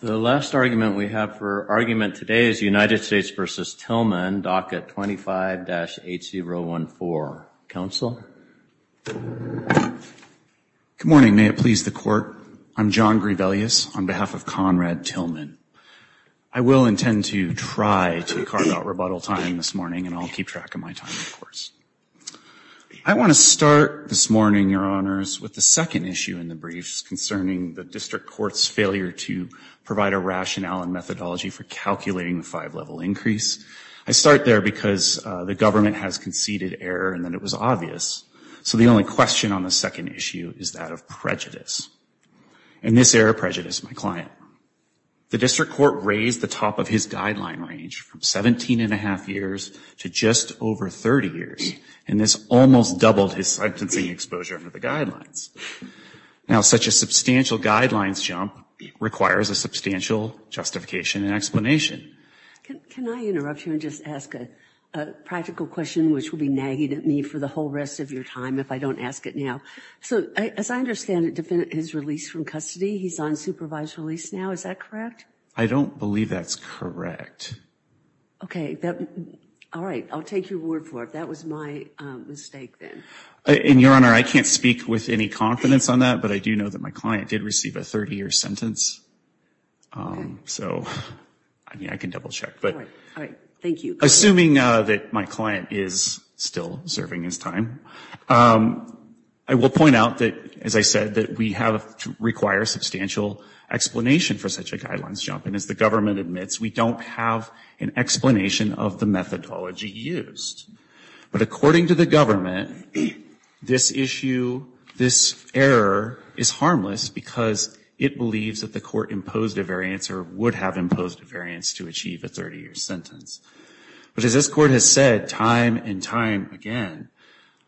The last argument we have for argument today is United States v. Tillman, docket 25-8014. Counsel? Good morning. May it please the Court, I'm John Grivellius on behalf of Conrad Tillman. I will intend to try to carve out rebuttal time this morning and I'll keep track of my time, of course. I want to start this morning, Your Honors, with the second issue in the briefs concerning the District Court's failure to provide a rationale and methodology for calculating the five-level increase. I start there because the government has conceded error and that it was obvious. So the only question on the second issue is that of prejudice. And this error prejudiced my client. The District Court raised the top of his guideline range from 17 and a half years to just over 30 years and this almost doubled his sentencing exposure under the guidelines. Now, such a substantial guidelines jump requires a substantial justification and explanation. Can I interrupt you and just ask a practical question which will be nagging at me for the whole rest of your time if I don't ask it now? So as I understand it, his release from custody, he's on supervised release now, is that correct? I don't believe that's correct. Okay. All right. I'll take your word for it. That was my mistake then. And Your Honor, I can't speak with any confidence on that, but I do know that my client did receive a 30-year sentence. So I mean, I can double-check, but assuming that my client is still serving his time, I will point out that, as I said, that we have to require substantial explanation for such a guidelines jump. And as the government admits, we don't have an explanation of the methodology used. But according to the government, this issue, this error is harmless because it believes that the court imposed a variance or would have imposed a variance to achieve a 30-year sentence. But as this Court has said time and time again,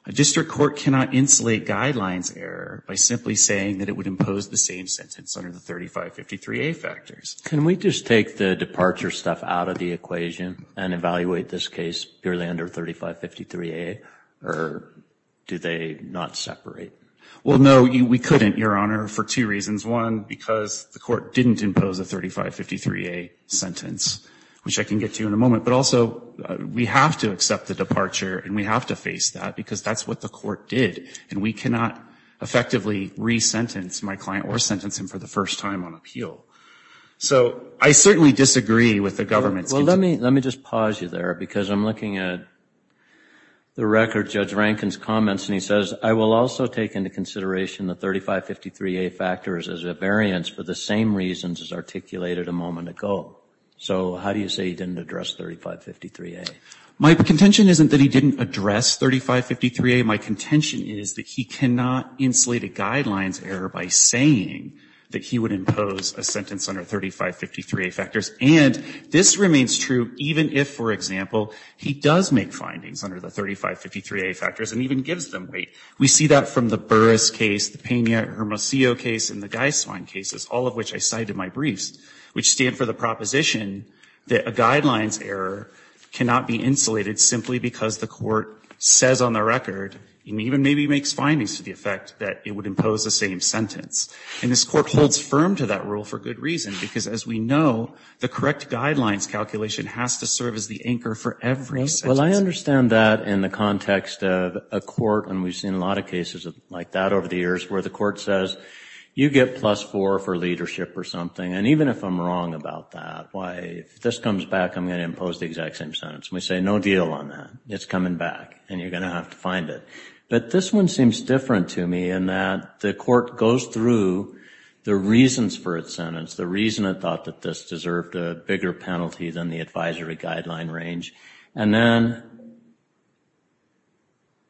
a district court cannot insulate guidelines error by simply saying that it would impose the same sentence under the 3553A factors. Can we just take the departure stuff out of the equation and evaluate this case purely under 3553A, or do they not separate? Well, no, we couldn't, Your Honor, for two reasons. One, because the court didn't impose a 3553A sentence, which I can get to in a moment. But also, we have to accept the departure, and we have to face that because that's what the court did. And we cannot effectively re-sentence my client or sentence him for the first time on appeal. So I certainly disagree with the government's— Well, let me just pause you there because I'm looking at the record, Judge Rankin's comments, and he says, I will also take into consideration the 3553A factors as a variance for the same reasons as articulated a moment ago. So how do you say he didn't address 3553A? My contention isn't that he didn't address 3553A. My contention is that he cannot insulate a guidelines error by saying that he would impose a sentence under 3553A factors. And this remains true even if, for example, he does make findings under the 3553A factors and even gives them weight. We see that from the Burris case, the Peña-Hermosillo case, and the Geiswein cases, all of which I cite in my briefs, which stand for the proposition that a guidelines error cannot be insulated simply because the court says on the record, and even maybe makes findings to the effect that it would impose the same sentence. And this court holds firm to that rule for good reason because, as we know, the correct guidelines calculation has to serve as the anchor for every sentence. Well, I understand that in the context of a court, and we've seen a lot of cases like that over the years, where the court says, you get plus four for leadership or something. And even if I'm wrong about that, why, if this comes back, I'm going to impose the exact same sentence. And we say, no deal on that. It's coming back and you're going to have to find it. But this one seems different to me in that the court goes through the reasons for its sentence, the reason it thought that this deserved a bigger penalty than the advisory guideline range, and then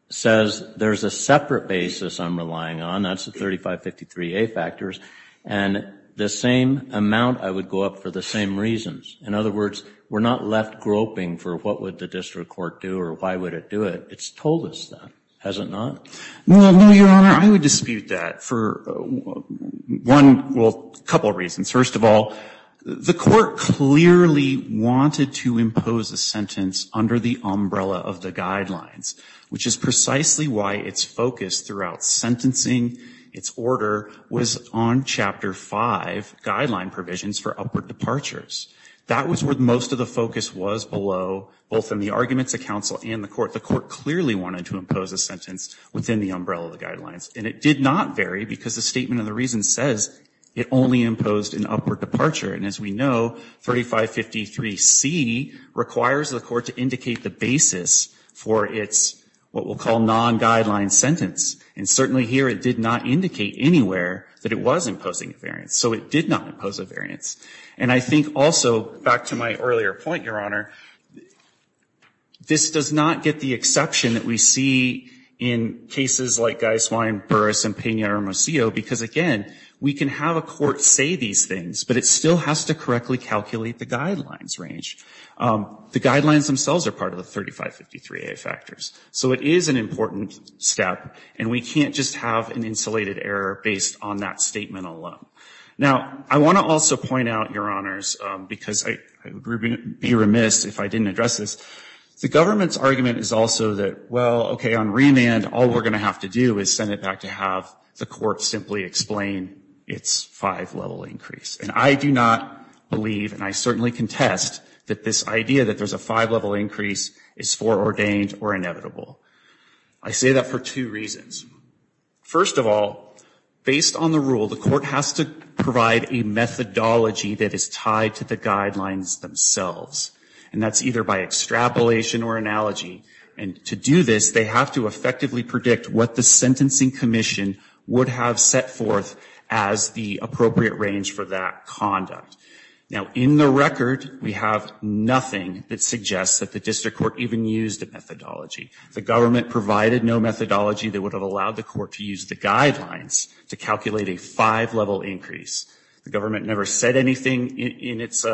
says, there's a separate basis I'm relying on. That's the 3553A factors. And the same amount, I would go up for the same reasons. In other words, we're not left groping for what would the district court do or why would it do it. It's told us that, has it not? Well, no, Your Honor, I would dispute that for one, well, a couple of reasons. First of all, the court clearly wanted to impose a sentence under the umbrella of the guidelines, which is precisely why its focus throughout sentencing its order was on Chapter 5 guideline provisions for upward departures. That was where most of the focus was below, both in the arguments of counsel and the court clearly wanted to impose a sentence within the umbrella of the guidelines. And it did not vary because the statement of the reason says it only imposed an upward departure. And as we know, 3553C requires the court to indicate the basis for its what we'll call non-guideline sentence. And certainly here, it did not indicate anywhere that it was imposing a variance. So it did not impose a variance. And I think also, back to my earlier point, Your Honor, this does not get the exception that we see in cases like Gaiswine, Burris, and Pena-Ramosillo, because again, we can have a court say these things, but it still has to correctly calculate the guidelines range. The guidelines themselves are part of the 3553A factors. So it is an important step, and we can't just have an insulated error based on that statement alone. Now, I want to also point out, Your Honors, because I would be remiss if I didn't address this, the government's argument is also that, well, okay, on remand, all we're going to have to do is send it back to have the court simply explain its five level increase. And I do not believe, and I certainly contest, that this idea that there's a five level increase is foreordained or inevitable. I say that for two reasons. First of all, based on the rule, the court has to provide a methodology that is tied to the guidelines themselves, and that's either by extrapolation or analogy. And to do this, they have to effectively predict what the sentencing commission would have set forth as the appropriate range for that conduct. Now, in the record, we have nothing that suggests that the district court even used a methodology. The government provided no methodology that would have allowed the court to use the guidelines to calculate a five level increase. The government never said anything in its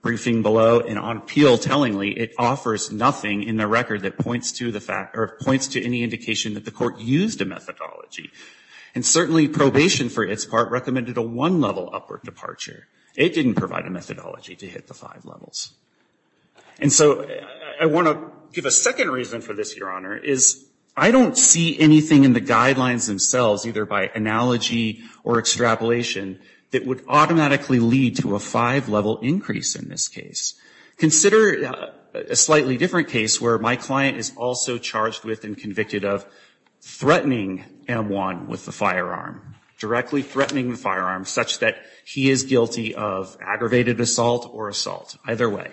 briefing below, and on appeal, tellingly, it offers nothing in the record that points to any indication that the court used a methodology. And certainly, probation, for its part, recommended a one level upward departure. It didn't provide a methodology to hit the five levels. And so, I want to give a second reason for this, Your Honor, is I don't see anything in the guidelines themselves, either by analogy or extrapolation, that would automatically lead to a five level increase in this case. Consider a slightly different case where my client is also charged with and convicted of threatening M1 with a firearm, directly threatening the firearm, such that he is guilty of aggravated assault or assault. Either way.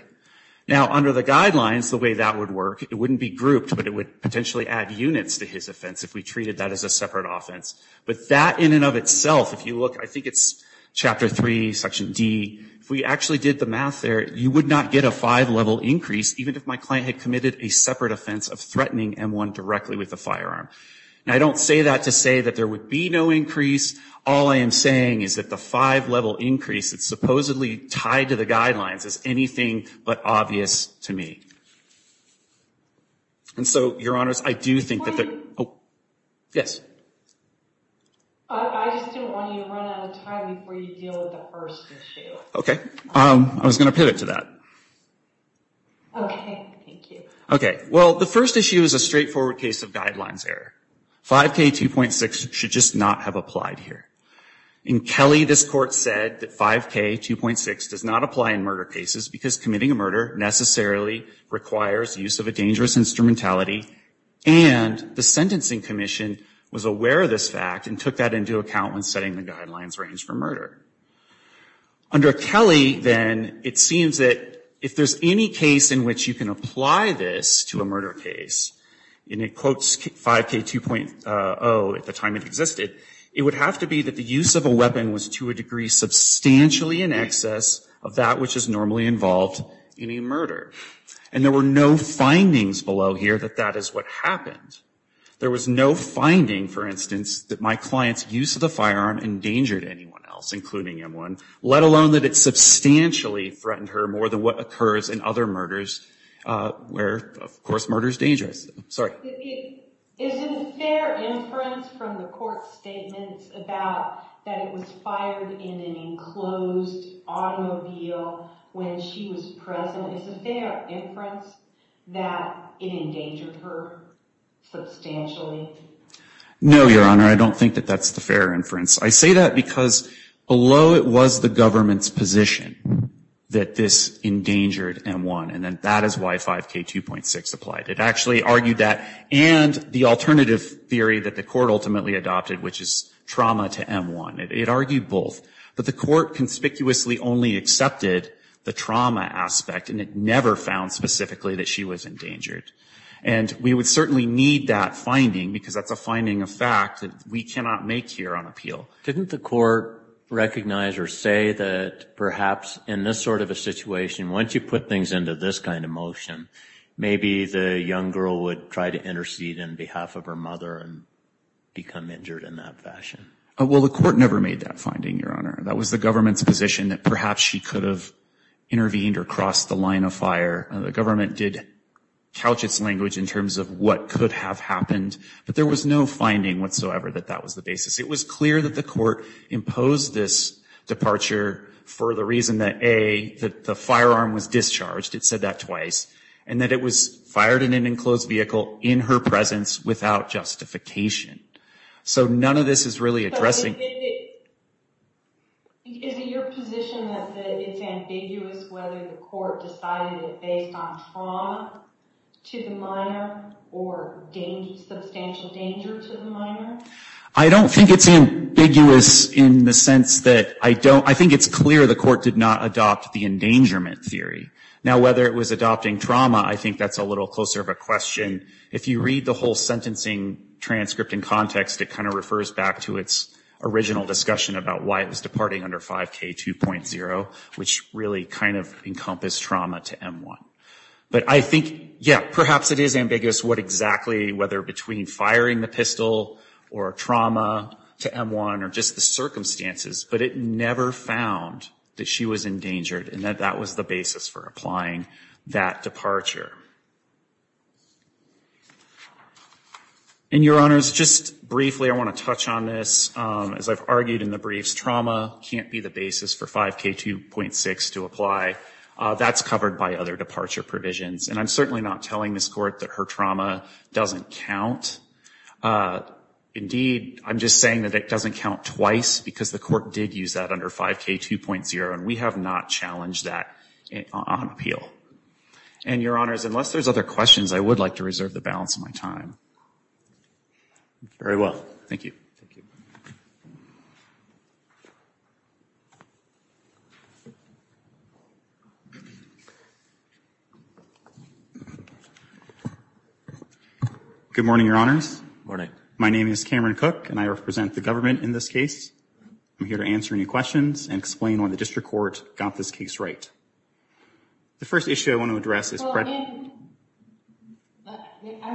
Now, under the guidelines, the way that would work, it wouldn't be grouped, but it would potentially add units to his offense if we treated that as a separate offense, but that in and of itself, if you look, I think it's chapter three, section D, if we actually did the math there, you would not get a five level increase, even if my client had committed a separate offense of threatening M1 directly with a firearm. Now, I don't say that to say that there would be no increase. All I am saying is that the five level increase, it's supposedly tied to the guidelines, is anything but obvious to me. And so, your honors, I do think that the- Yes. I just didn't want you to run out of time before you deal with the first issue. Okay. I was going to pivot to that. Okay, thank you. Okay, well, the first issue is a straightforward case of guidelines error. 5K2.6 should just not have applied here. In Kelly, this court said that 5K2.6 does not apply in murder cases, because committing a murder necessarily requires use of a dangerous instrumentality, and the sentencing commission was aware of this fact and took that into account when setting the guidelines range for murder. Under Kelly, then, it seems that if there's any case in which you can apply this to a murder case, and it quotes 5K2.0 at the time it existed, it would have to be that the use of a weapon was, to a degree, substantially in excess of that which is normally involved in a murder. And there were no findings below here that that is what happened. There was no finding, for instance, that my client's use of the firearm endangered anyone else, including M1, let alone that it substantially threatened her more than what occurs in other murders where, of course, murder is dangerous. Sorry. Is it a fair inference from the court's statements about that it was fired in an enclosed automobile when she was present? Is it a fair inference that it endangered her substantially? No, Your Honor, I don't think that that's the fair inference. I say that because below it was the government's position that this endangered M1, and that is why 5K2.6 applied. It actually argued that and the alternative theory that the court ultimately adopted, which is trauma to M1, it argued both. But the court conspicuously only accepted the trauma aspect, and it never found specifically that she was endangered. And we would certainly need that finding because that's a finding of fact that we cannot make here on appeal. Didn't the court recognize or say that perhaps in this sort of a situation, once you put things into this kind of motion, maybe the young girl would try to intercede on behalf of her mother and become injured in that fashion? Well, the court never made that finding, Your Honor. That was the government's position that perhaps she could have intervened or crossed the line of fire. The government did couch its language in terms of what could have happened, but there was no finding whatsoever that that was the basis. It was clear that the court imposed this departure for the reason that, A, that the firearm was discharged. It said that twice, and that it was fired in an enclosed vehicle in her presence without justification. So none of this is really addressing... But is it your position that it's ambiguous whether the court decided it based on trauma to the minor or substantial danger to the minor? I don't think it's ambiguous in the sense that I don't... It's clear the court did not adopt the endangerment theory. Now, whether it was adopting trauma, I think that's a little closer of a question. If you read the whole sentencing transcript in context, it kind of refers back to its original discussion about why it was departing under 5K 2.0, which really kind of encompassed trauma to M1. But I think, yeah, perhaps it is ambiguous what exactly, whether between firing the pistol or trauma to M1 or just the circumstances, but it never found that she was endangered and that that was the basis for applying that departure. And, Your Honors, just briefly, I want to touch on this. As I've argued in the briefs, trauma can't be the basis for 5K 2.6 to apply. That's covered by other departure provisions. And I'm certainly not telling this court that her trauma doesn't count. Indeed, I'm just saying that it doesn't count twice because the court did use that under 5K 2.0, and we have not challenged that on appeal. And, Your Honors, unless there's other questions, I would like to reserve the balance of my time. Very well. Thank you. Thank you. Good morning, Your Honors. My name is Cameron Cook, and I represent the government in this case. I'm here to answer any questions and explain why the district court got this case right. The first issue I want to address is- I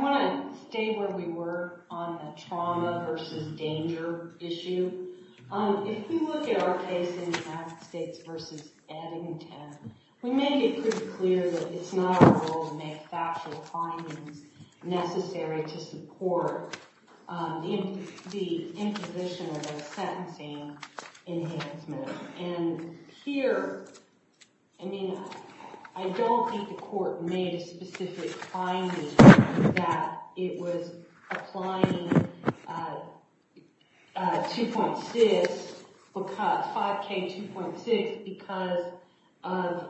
want to stay where we were on the trauma versus danger issue. If we look at our case in the United States versus Edmonton, we made it pretty clear that it's not our goal to make factual findings necessary to support the imposition of a sentencing enhancement. And here, I mean, I don't think the court made a specific finding that it was applying 5K 2.6 because of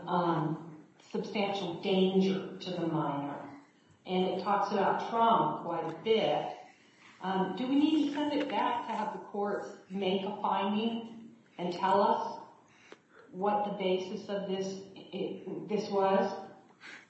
substantial danger to the minor. And it talks about trauma quite a bit. Do we need to send it back to have the courts make a finding and tell us what the basis of this was?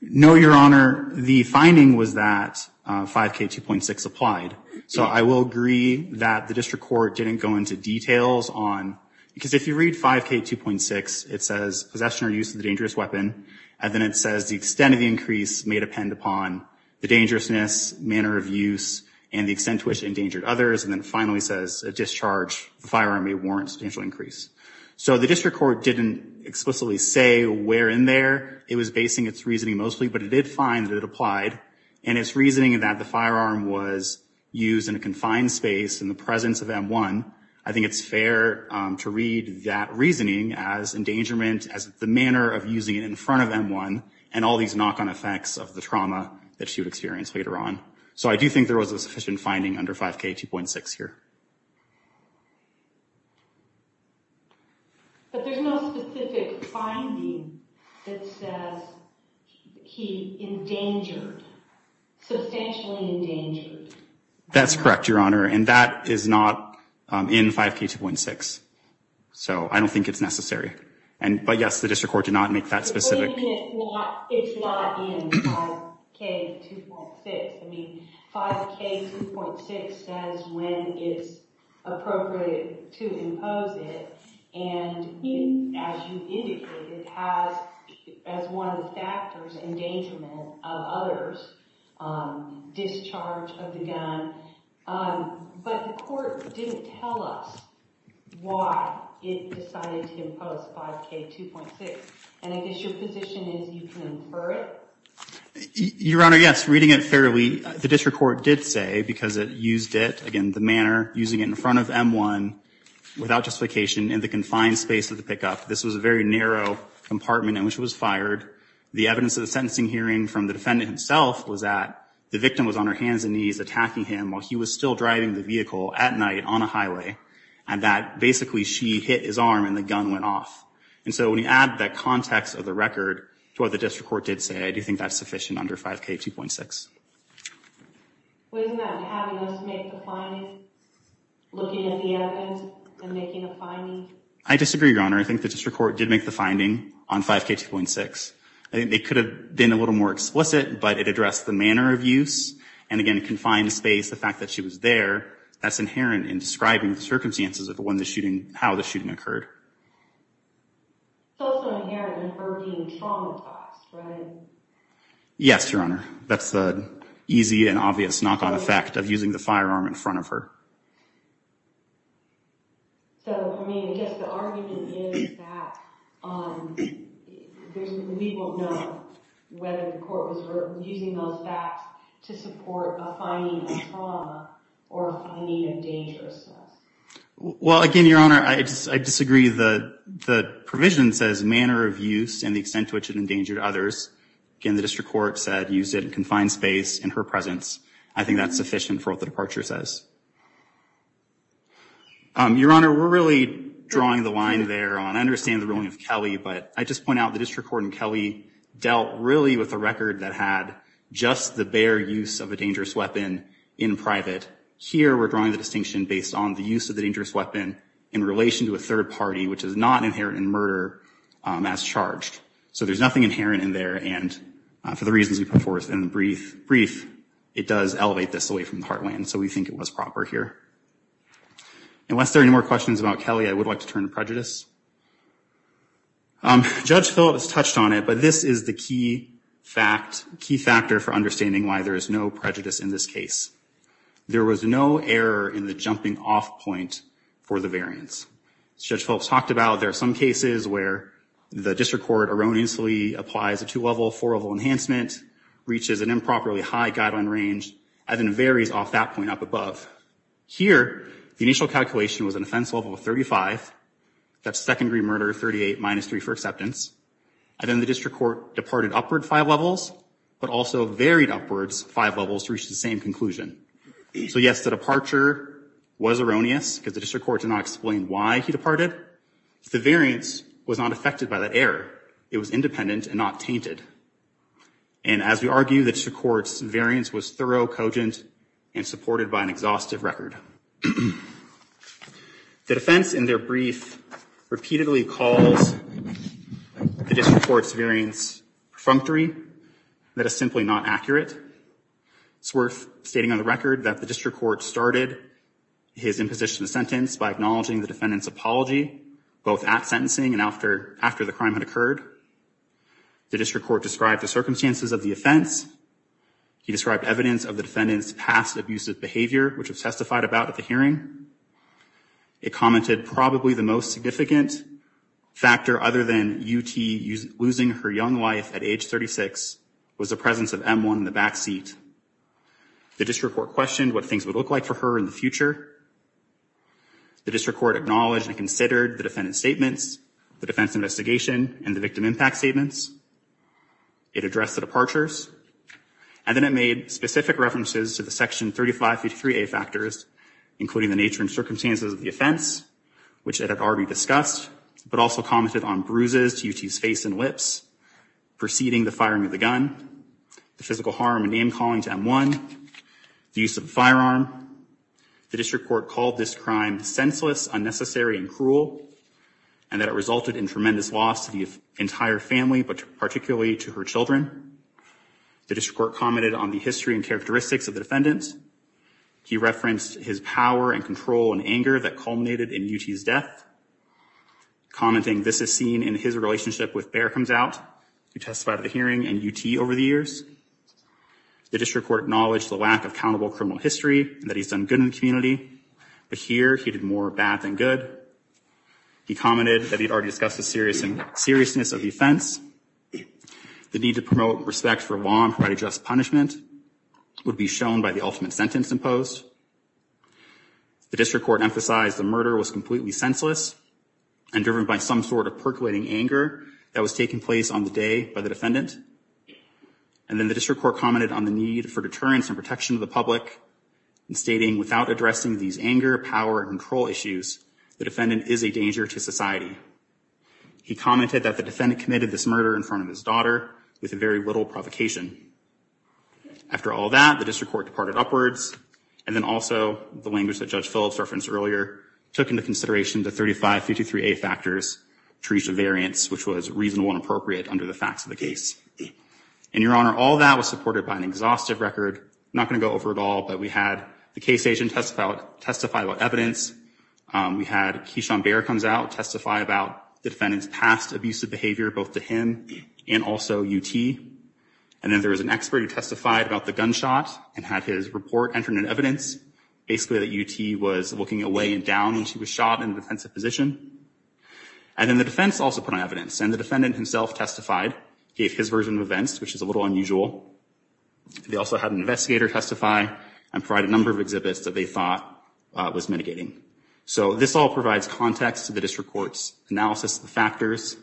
No, Your Honor. The finding was that 5K 2.6 applied. So I will agree that the district court didn't go into details on- because if you read 5K 2.6, it says possession or use of a dangerous weapon, and then it says the extent of the increase may depend upon the dangerousness, the manner of use, and the extent to which it endangered others, and then finally says discharge, the firearm may warrant substantial increase. So the district court didn't explicitly say where in there it was basing its reasoning mostly, but it did find that it applied. And its reasoning that the firearm was used in a confined space in the presence of M1, I think it's fair to read that reasoning as endangerment, as the manner of using it in front of M1, and all these knock-on effects of the trauma that she would experience later on. So I do think there was a sufficient finding under 5K 2.6 here. But there's no specific finding that says he endangered, substantially endangered. That's correct, Your Honor, and that is not in 5K 2.6. So I don't think it's necessary. But yes, the district court did not make that specific- It's not in 5K 2.6. I mean, 5K 2.6 says when it's appropriate to impose it. And as you indicated, it has, as one of the factors, endangerment of others, discharge of the gun. But the court didn't tell us why it decided to impose 5K 2.6. And I guess your position is you can infer it? Your Honor, yes, reading it fairly, the district court did say, because it used it, again, the manner, using it in front of M1, without justification, in the confined space of the pickup. This was a very narrow compartment in which it was fired. The evidence of the sentencing hearing from the defendant himself was that the victim was on her hands and knees attacking him while he was still driving the vehicle at night on a highway, and that basically she hit his arm and the gun went off. And so, when you add that context of the record to what the district court did say, I do think that's sufficient under 5K 2.6. Wasn't that having us make the finding, looking at the evidence, and making a finding? I disagree, Your Honor. I think the district court did make the finding on 5K 2.6. I think they could have been a little more explicit, but it addressed the manner of use. And again, confined space, the fact that she was there, that's inherent in describing the circumstances of when the shooting, how the shooting occurred. It's also inherent in her being traumatized, right? Yes, Your Honor. That's the easy and obvious knock-on effect of using the firearm in front of her. So, I mean, I guess the argument is that we won't know whether the court was using those facts to support a finding of trauma or a finding of dangerousness. Well, again, Your Honor, I disagree. The provision says manner of use and the extent to which it endangered others. Again, the district court said, use it in confined space in her presence. I think that's sufficient for what the departure says. Your Honor, we're really drawing the line there on, I understand the ruling of Kelly, but I just point out the district court and Kelly dealt really with a record that had just the bare use of a dangerous weapon in private. Here, we're drawing the distinction based on the use of the dangerous weapon in relation to a third party, which is not inherent in murder as charged. So, there's nothing inherent in there and for the reasons you put forth in the brief, it does elevate this away from the heartland. So, we think it was proper here. Unless there are any more questions about Kelly, I would like to turn to prejudice. Judge Phillips touched on it, but this is the key fact, key factor for understanding why there is no prejudice in this case. There was no error in the jumping off point for the variance. Judge Phillips talked about there are some cases where the district court erroneously applies a two-level, four-level enhancement, reaches an improperly high guideline range, and then varies off that point up above. Here, the initial calculation was an offense level of 35, that's second-degree murder, 38 minus three for acceptance. And then the district court departed upward five levels, but also varied upwards five levels to reach the same conclusion. So, yes, the departure was erroneous because the district court did not explain why he departed. The variance was not affected by that error. It was independent and not tainted. And as we argue, the district court's variance was thorough, cogent, and supported by an exhaustive record. The defense in their brief repeatedly calls the district court's variance perfunctory. That is simply not accurate. It's worth stating on the record that the district court started his imposition of sentence by acknowledging the defendant's apology, both at sentencing and after the crime had occurred. The district court described the circumstances of the offense. He described evidence of the defendant's past abusive behavior, which was testified about at the hearing. It commented probably the most significant factor other than UT losing her young wife at age 36 was the presence of M1 in the backseat. The district court questioned what things would look like for her in the future. The district court acknowledged and considered the defendant's statements, the defense investigation, and the victim impact statements. It addressed the departures. And then it made specific references to the section 3553A factors, including the nature and circumstances of the offense, which it had already discussed, but also commented on bruises to UT's face and lips, preceding the firing of the gun, the physical harm and name calling to M1, the use of a firearm. The district court called this crime senseless, unnecessary, and cruel, and that it resulted in tremendous loss to the entire family, but particularly to her children. The district court commented on the history and characteristics of the defendant. He referenced his power and control and anger that culminated in UT's death, commenting this is seen in his relationship with Bear Comes Out, who testified at the hearing and UT over the years. The district court acknowledged the lack of accountable criminal history, and that he's done good in the community, but here he did more bad than good. He commented that he'd already discussed the seriousness of the offense. The need to promote respect for law and provide just punishment would be shown by the ultimate sentence imposed. The district court emphasized the murder was completely senseless and driven by some sort of percolating anger that was taking place on the day by the defendant. And then the district court commented on the need for deterrence and protection of the public, stating without addressing these anger, power, and control issues, the defendant is a danger to society. He commented that the defendant committed this murder in front of his daughter with very little provocation. After all that, the district court departed upwards, and then also the language that Judge Phillips referenced earlier took into consideration the 3553A factors, Teresa Variance, which was reasonable and appropriate under the facts of the case. And, Your Honor, all that was supported by an exhaustive record. Not gonna go over it all, but we had the case agent testify about evidence. We had Keishon Bear comes out, testify about the defendant's past abusive behavior, both to him and also UT. And then there was an expert who testified about the gunshot and had his report entered in evidence, basically that UT was looking away and down when she was shot in a defensive position. And then the defense also put on evidence, and the defendant himself testified, gave his version of events, which is a little unusual. They also had an investigator testify and provide a number of exhibits that they thought was mitigating. So this all provides context to the district court's analysis of the factors,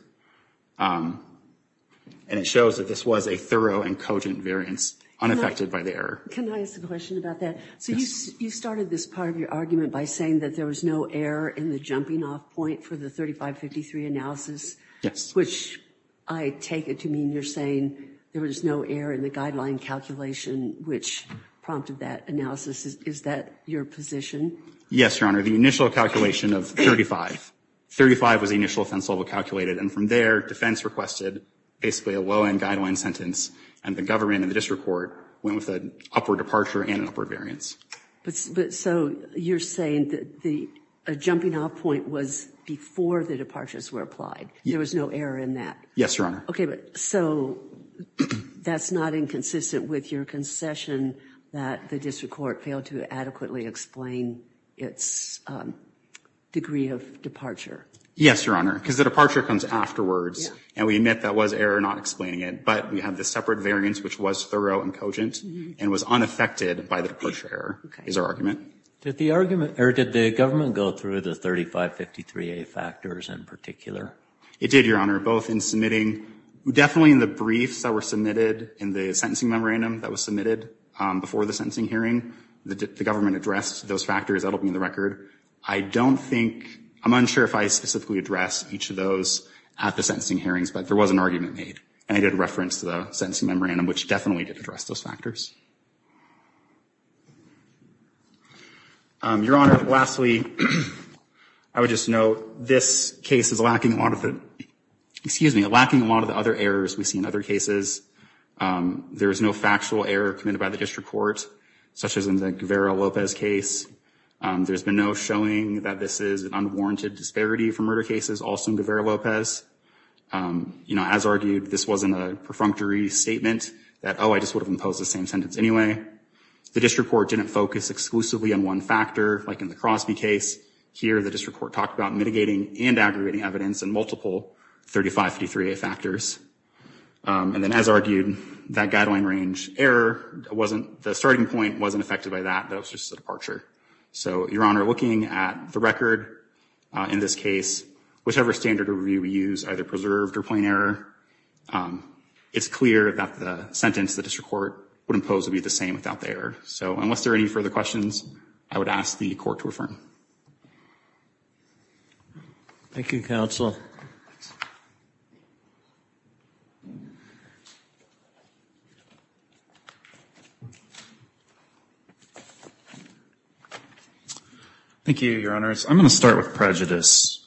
and it shows that this was a thorough and cogent variance, unaffected by the error. Can I ask a question about that? So you started this part of your argument by saying that there was no error in the jumping off point for the 3553 analysis. Yes. Which I take it to mean you're saying there was no error in the guideline calculation, which prompted that analysis. Is that your position? Yes, Your Honor. The initial calculation of 35. 35 was the initial offense level calculated, and from there, defense requested basically a low-end guideline sentence, and the government and the district court went with an upward departure and an upward variance. But so you're saying that a jumping off point was before the departures were applied. There was no error in that. Yes, Your Honor. Okay, but so that's not inconsistent with your concession that the district court failed to adequately explain its degree of departure. Yes, Your Honor, because the departure comes afterwards, and we admit that was error not explaining it, but we have this separate variance, which was thorough and cogent, and was unaffected by the departure error, is our argument. Did the government go through the 3553A factors in particular? It did, Your Honor, both in submitting, definitely in the briefs that were submitted in the sentencing memorandum that was submitted before the sentencing hearing, the government addressed those factors, that'll be in the record. I don't think, I'm unsure if I specifically addressed each of those at the sentencing hearings, but there was an argument made, and I did reference the sentencing memorandum, which definitely did address those factors. Your Honor, lastly, I would just note, this case is lacking a lot of the, excuse me, lacking a lot of the other errors we see in other cases. There is no factual error committed by the district court, such as in the Guevara-Lopez case. There's been no showing that this is an unwarranted disparity for murder cases, also in Guevara-Lopez. As argued, this wasn't a perfunctory statement that, oh, I just would've imposed the same sentence anyway. The district court didn't focus exclusively on one factor, like in the Crosby case. Here, the district court talked about mitigating and aggregating evidence in multiple 3553A factors. And then, as argued, that guideline range error wasn't, the starting point wasn't affected by that, that was just a departure. So, Your Honor, looking at the record in this case, whichever standard review we use, either preserved or plain error, it's clear that the sentence the district court would impose would be the same without the error. So, unless there are any further questions, I would ask the court to affirm. Thank you, counsel. Thank you, Your Honors. I'm gonna start with prejudice.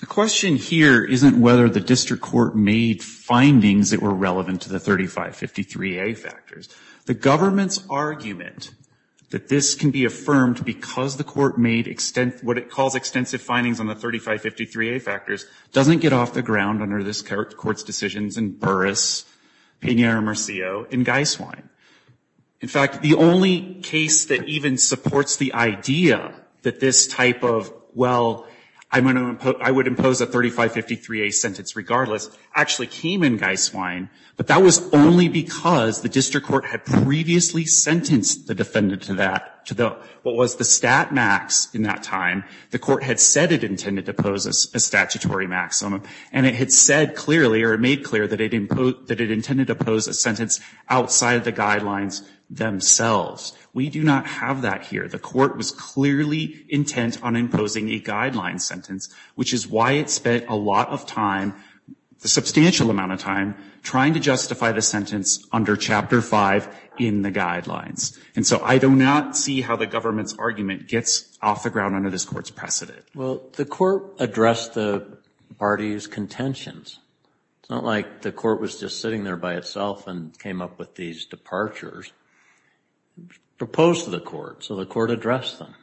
The question here isn't whether the district court made findings that were relevant to the 3553A factors. The government's argument that this can be affirmed because the court made what it calls extensive findings on the 3553A factors doesn't get off the ground under this court's decisions in Burris, Piñera-Murcio, and Geiswein. In fact, the only case that even supports the idea that this type of, well, I would impose a 3553A sentence regardless, actually came in Geiswein, but that was only because the district court had previously sentenced the defendant to that, to what was the stat max in that time. The court had said it intended to impose a statutory maximum, and it had said clearly, or it made clear that it intended to impose a sentence outside of the guidelines themselves. We do not have that here. The court was clearly intent on imposing a guideline sentence, which is why it spent a lot of time, a substantial amount of time, trying to justify the sentence under chapter five in the guidelines. And so I do not see how the government's argument gets off the ground under this court's precedent. Well, the court addressed the party's contentions. It's not like the court was just sitting there by itself and came up with these departures. Proposed to the court, so the court addressed them.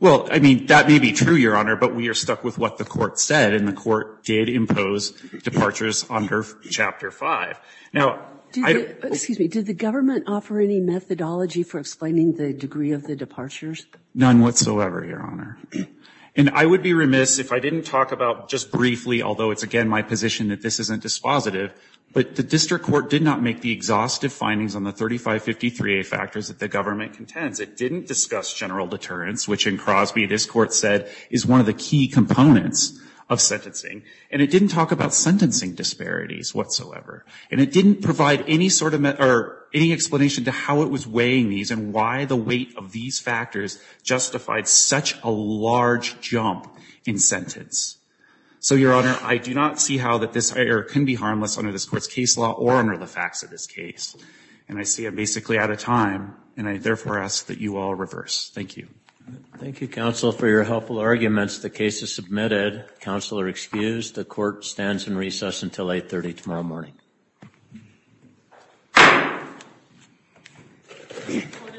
Well, I mean, that may be true, Your Honor, but we are stuck with what the court said, and the court did impose departures under chapter five. Now, I don't- Excuse me, did the government offer any methodology for explaining the degree of the departures? None whatsoever, Your Honor. And I would be remiss if I didn't talk about, just briefly, although it's again my position that this isn't dispositive, but the district court did not make the exhaustive findings on the 3553A factors that the government contends. It didn't discuss general deterrence, which in Crosby, this court said, is one of the key components of sentencing. And it didn't talk about sentencing disparities whatsoever. And it didn't provide any explanation to how it was weighing these and why the weight of these factors justified such a large jump in sentence. So, Your Honor, I do not see how this can be harmless under this court's case law or under the facts of this case. And I see I'm basically out of time, and I therefore ask that you all reverse. Thank you. Thank you, counsel, for your helpful arguments. The case is submitted. Counsel are excused. The court stands in recess until 8.30 tomorrow morning. Thank you.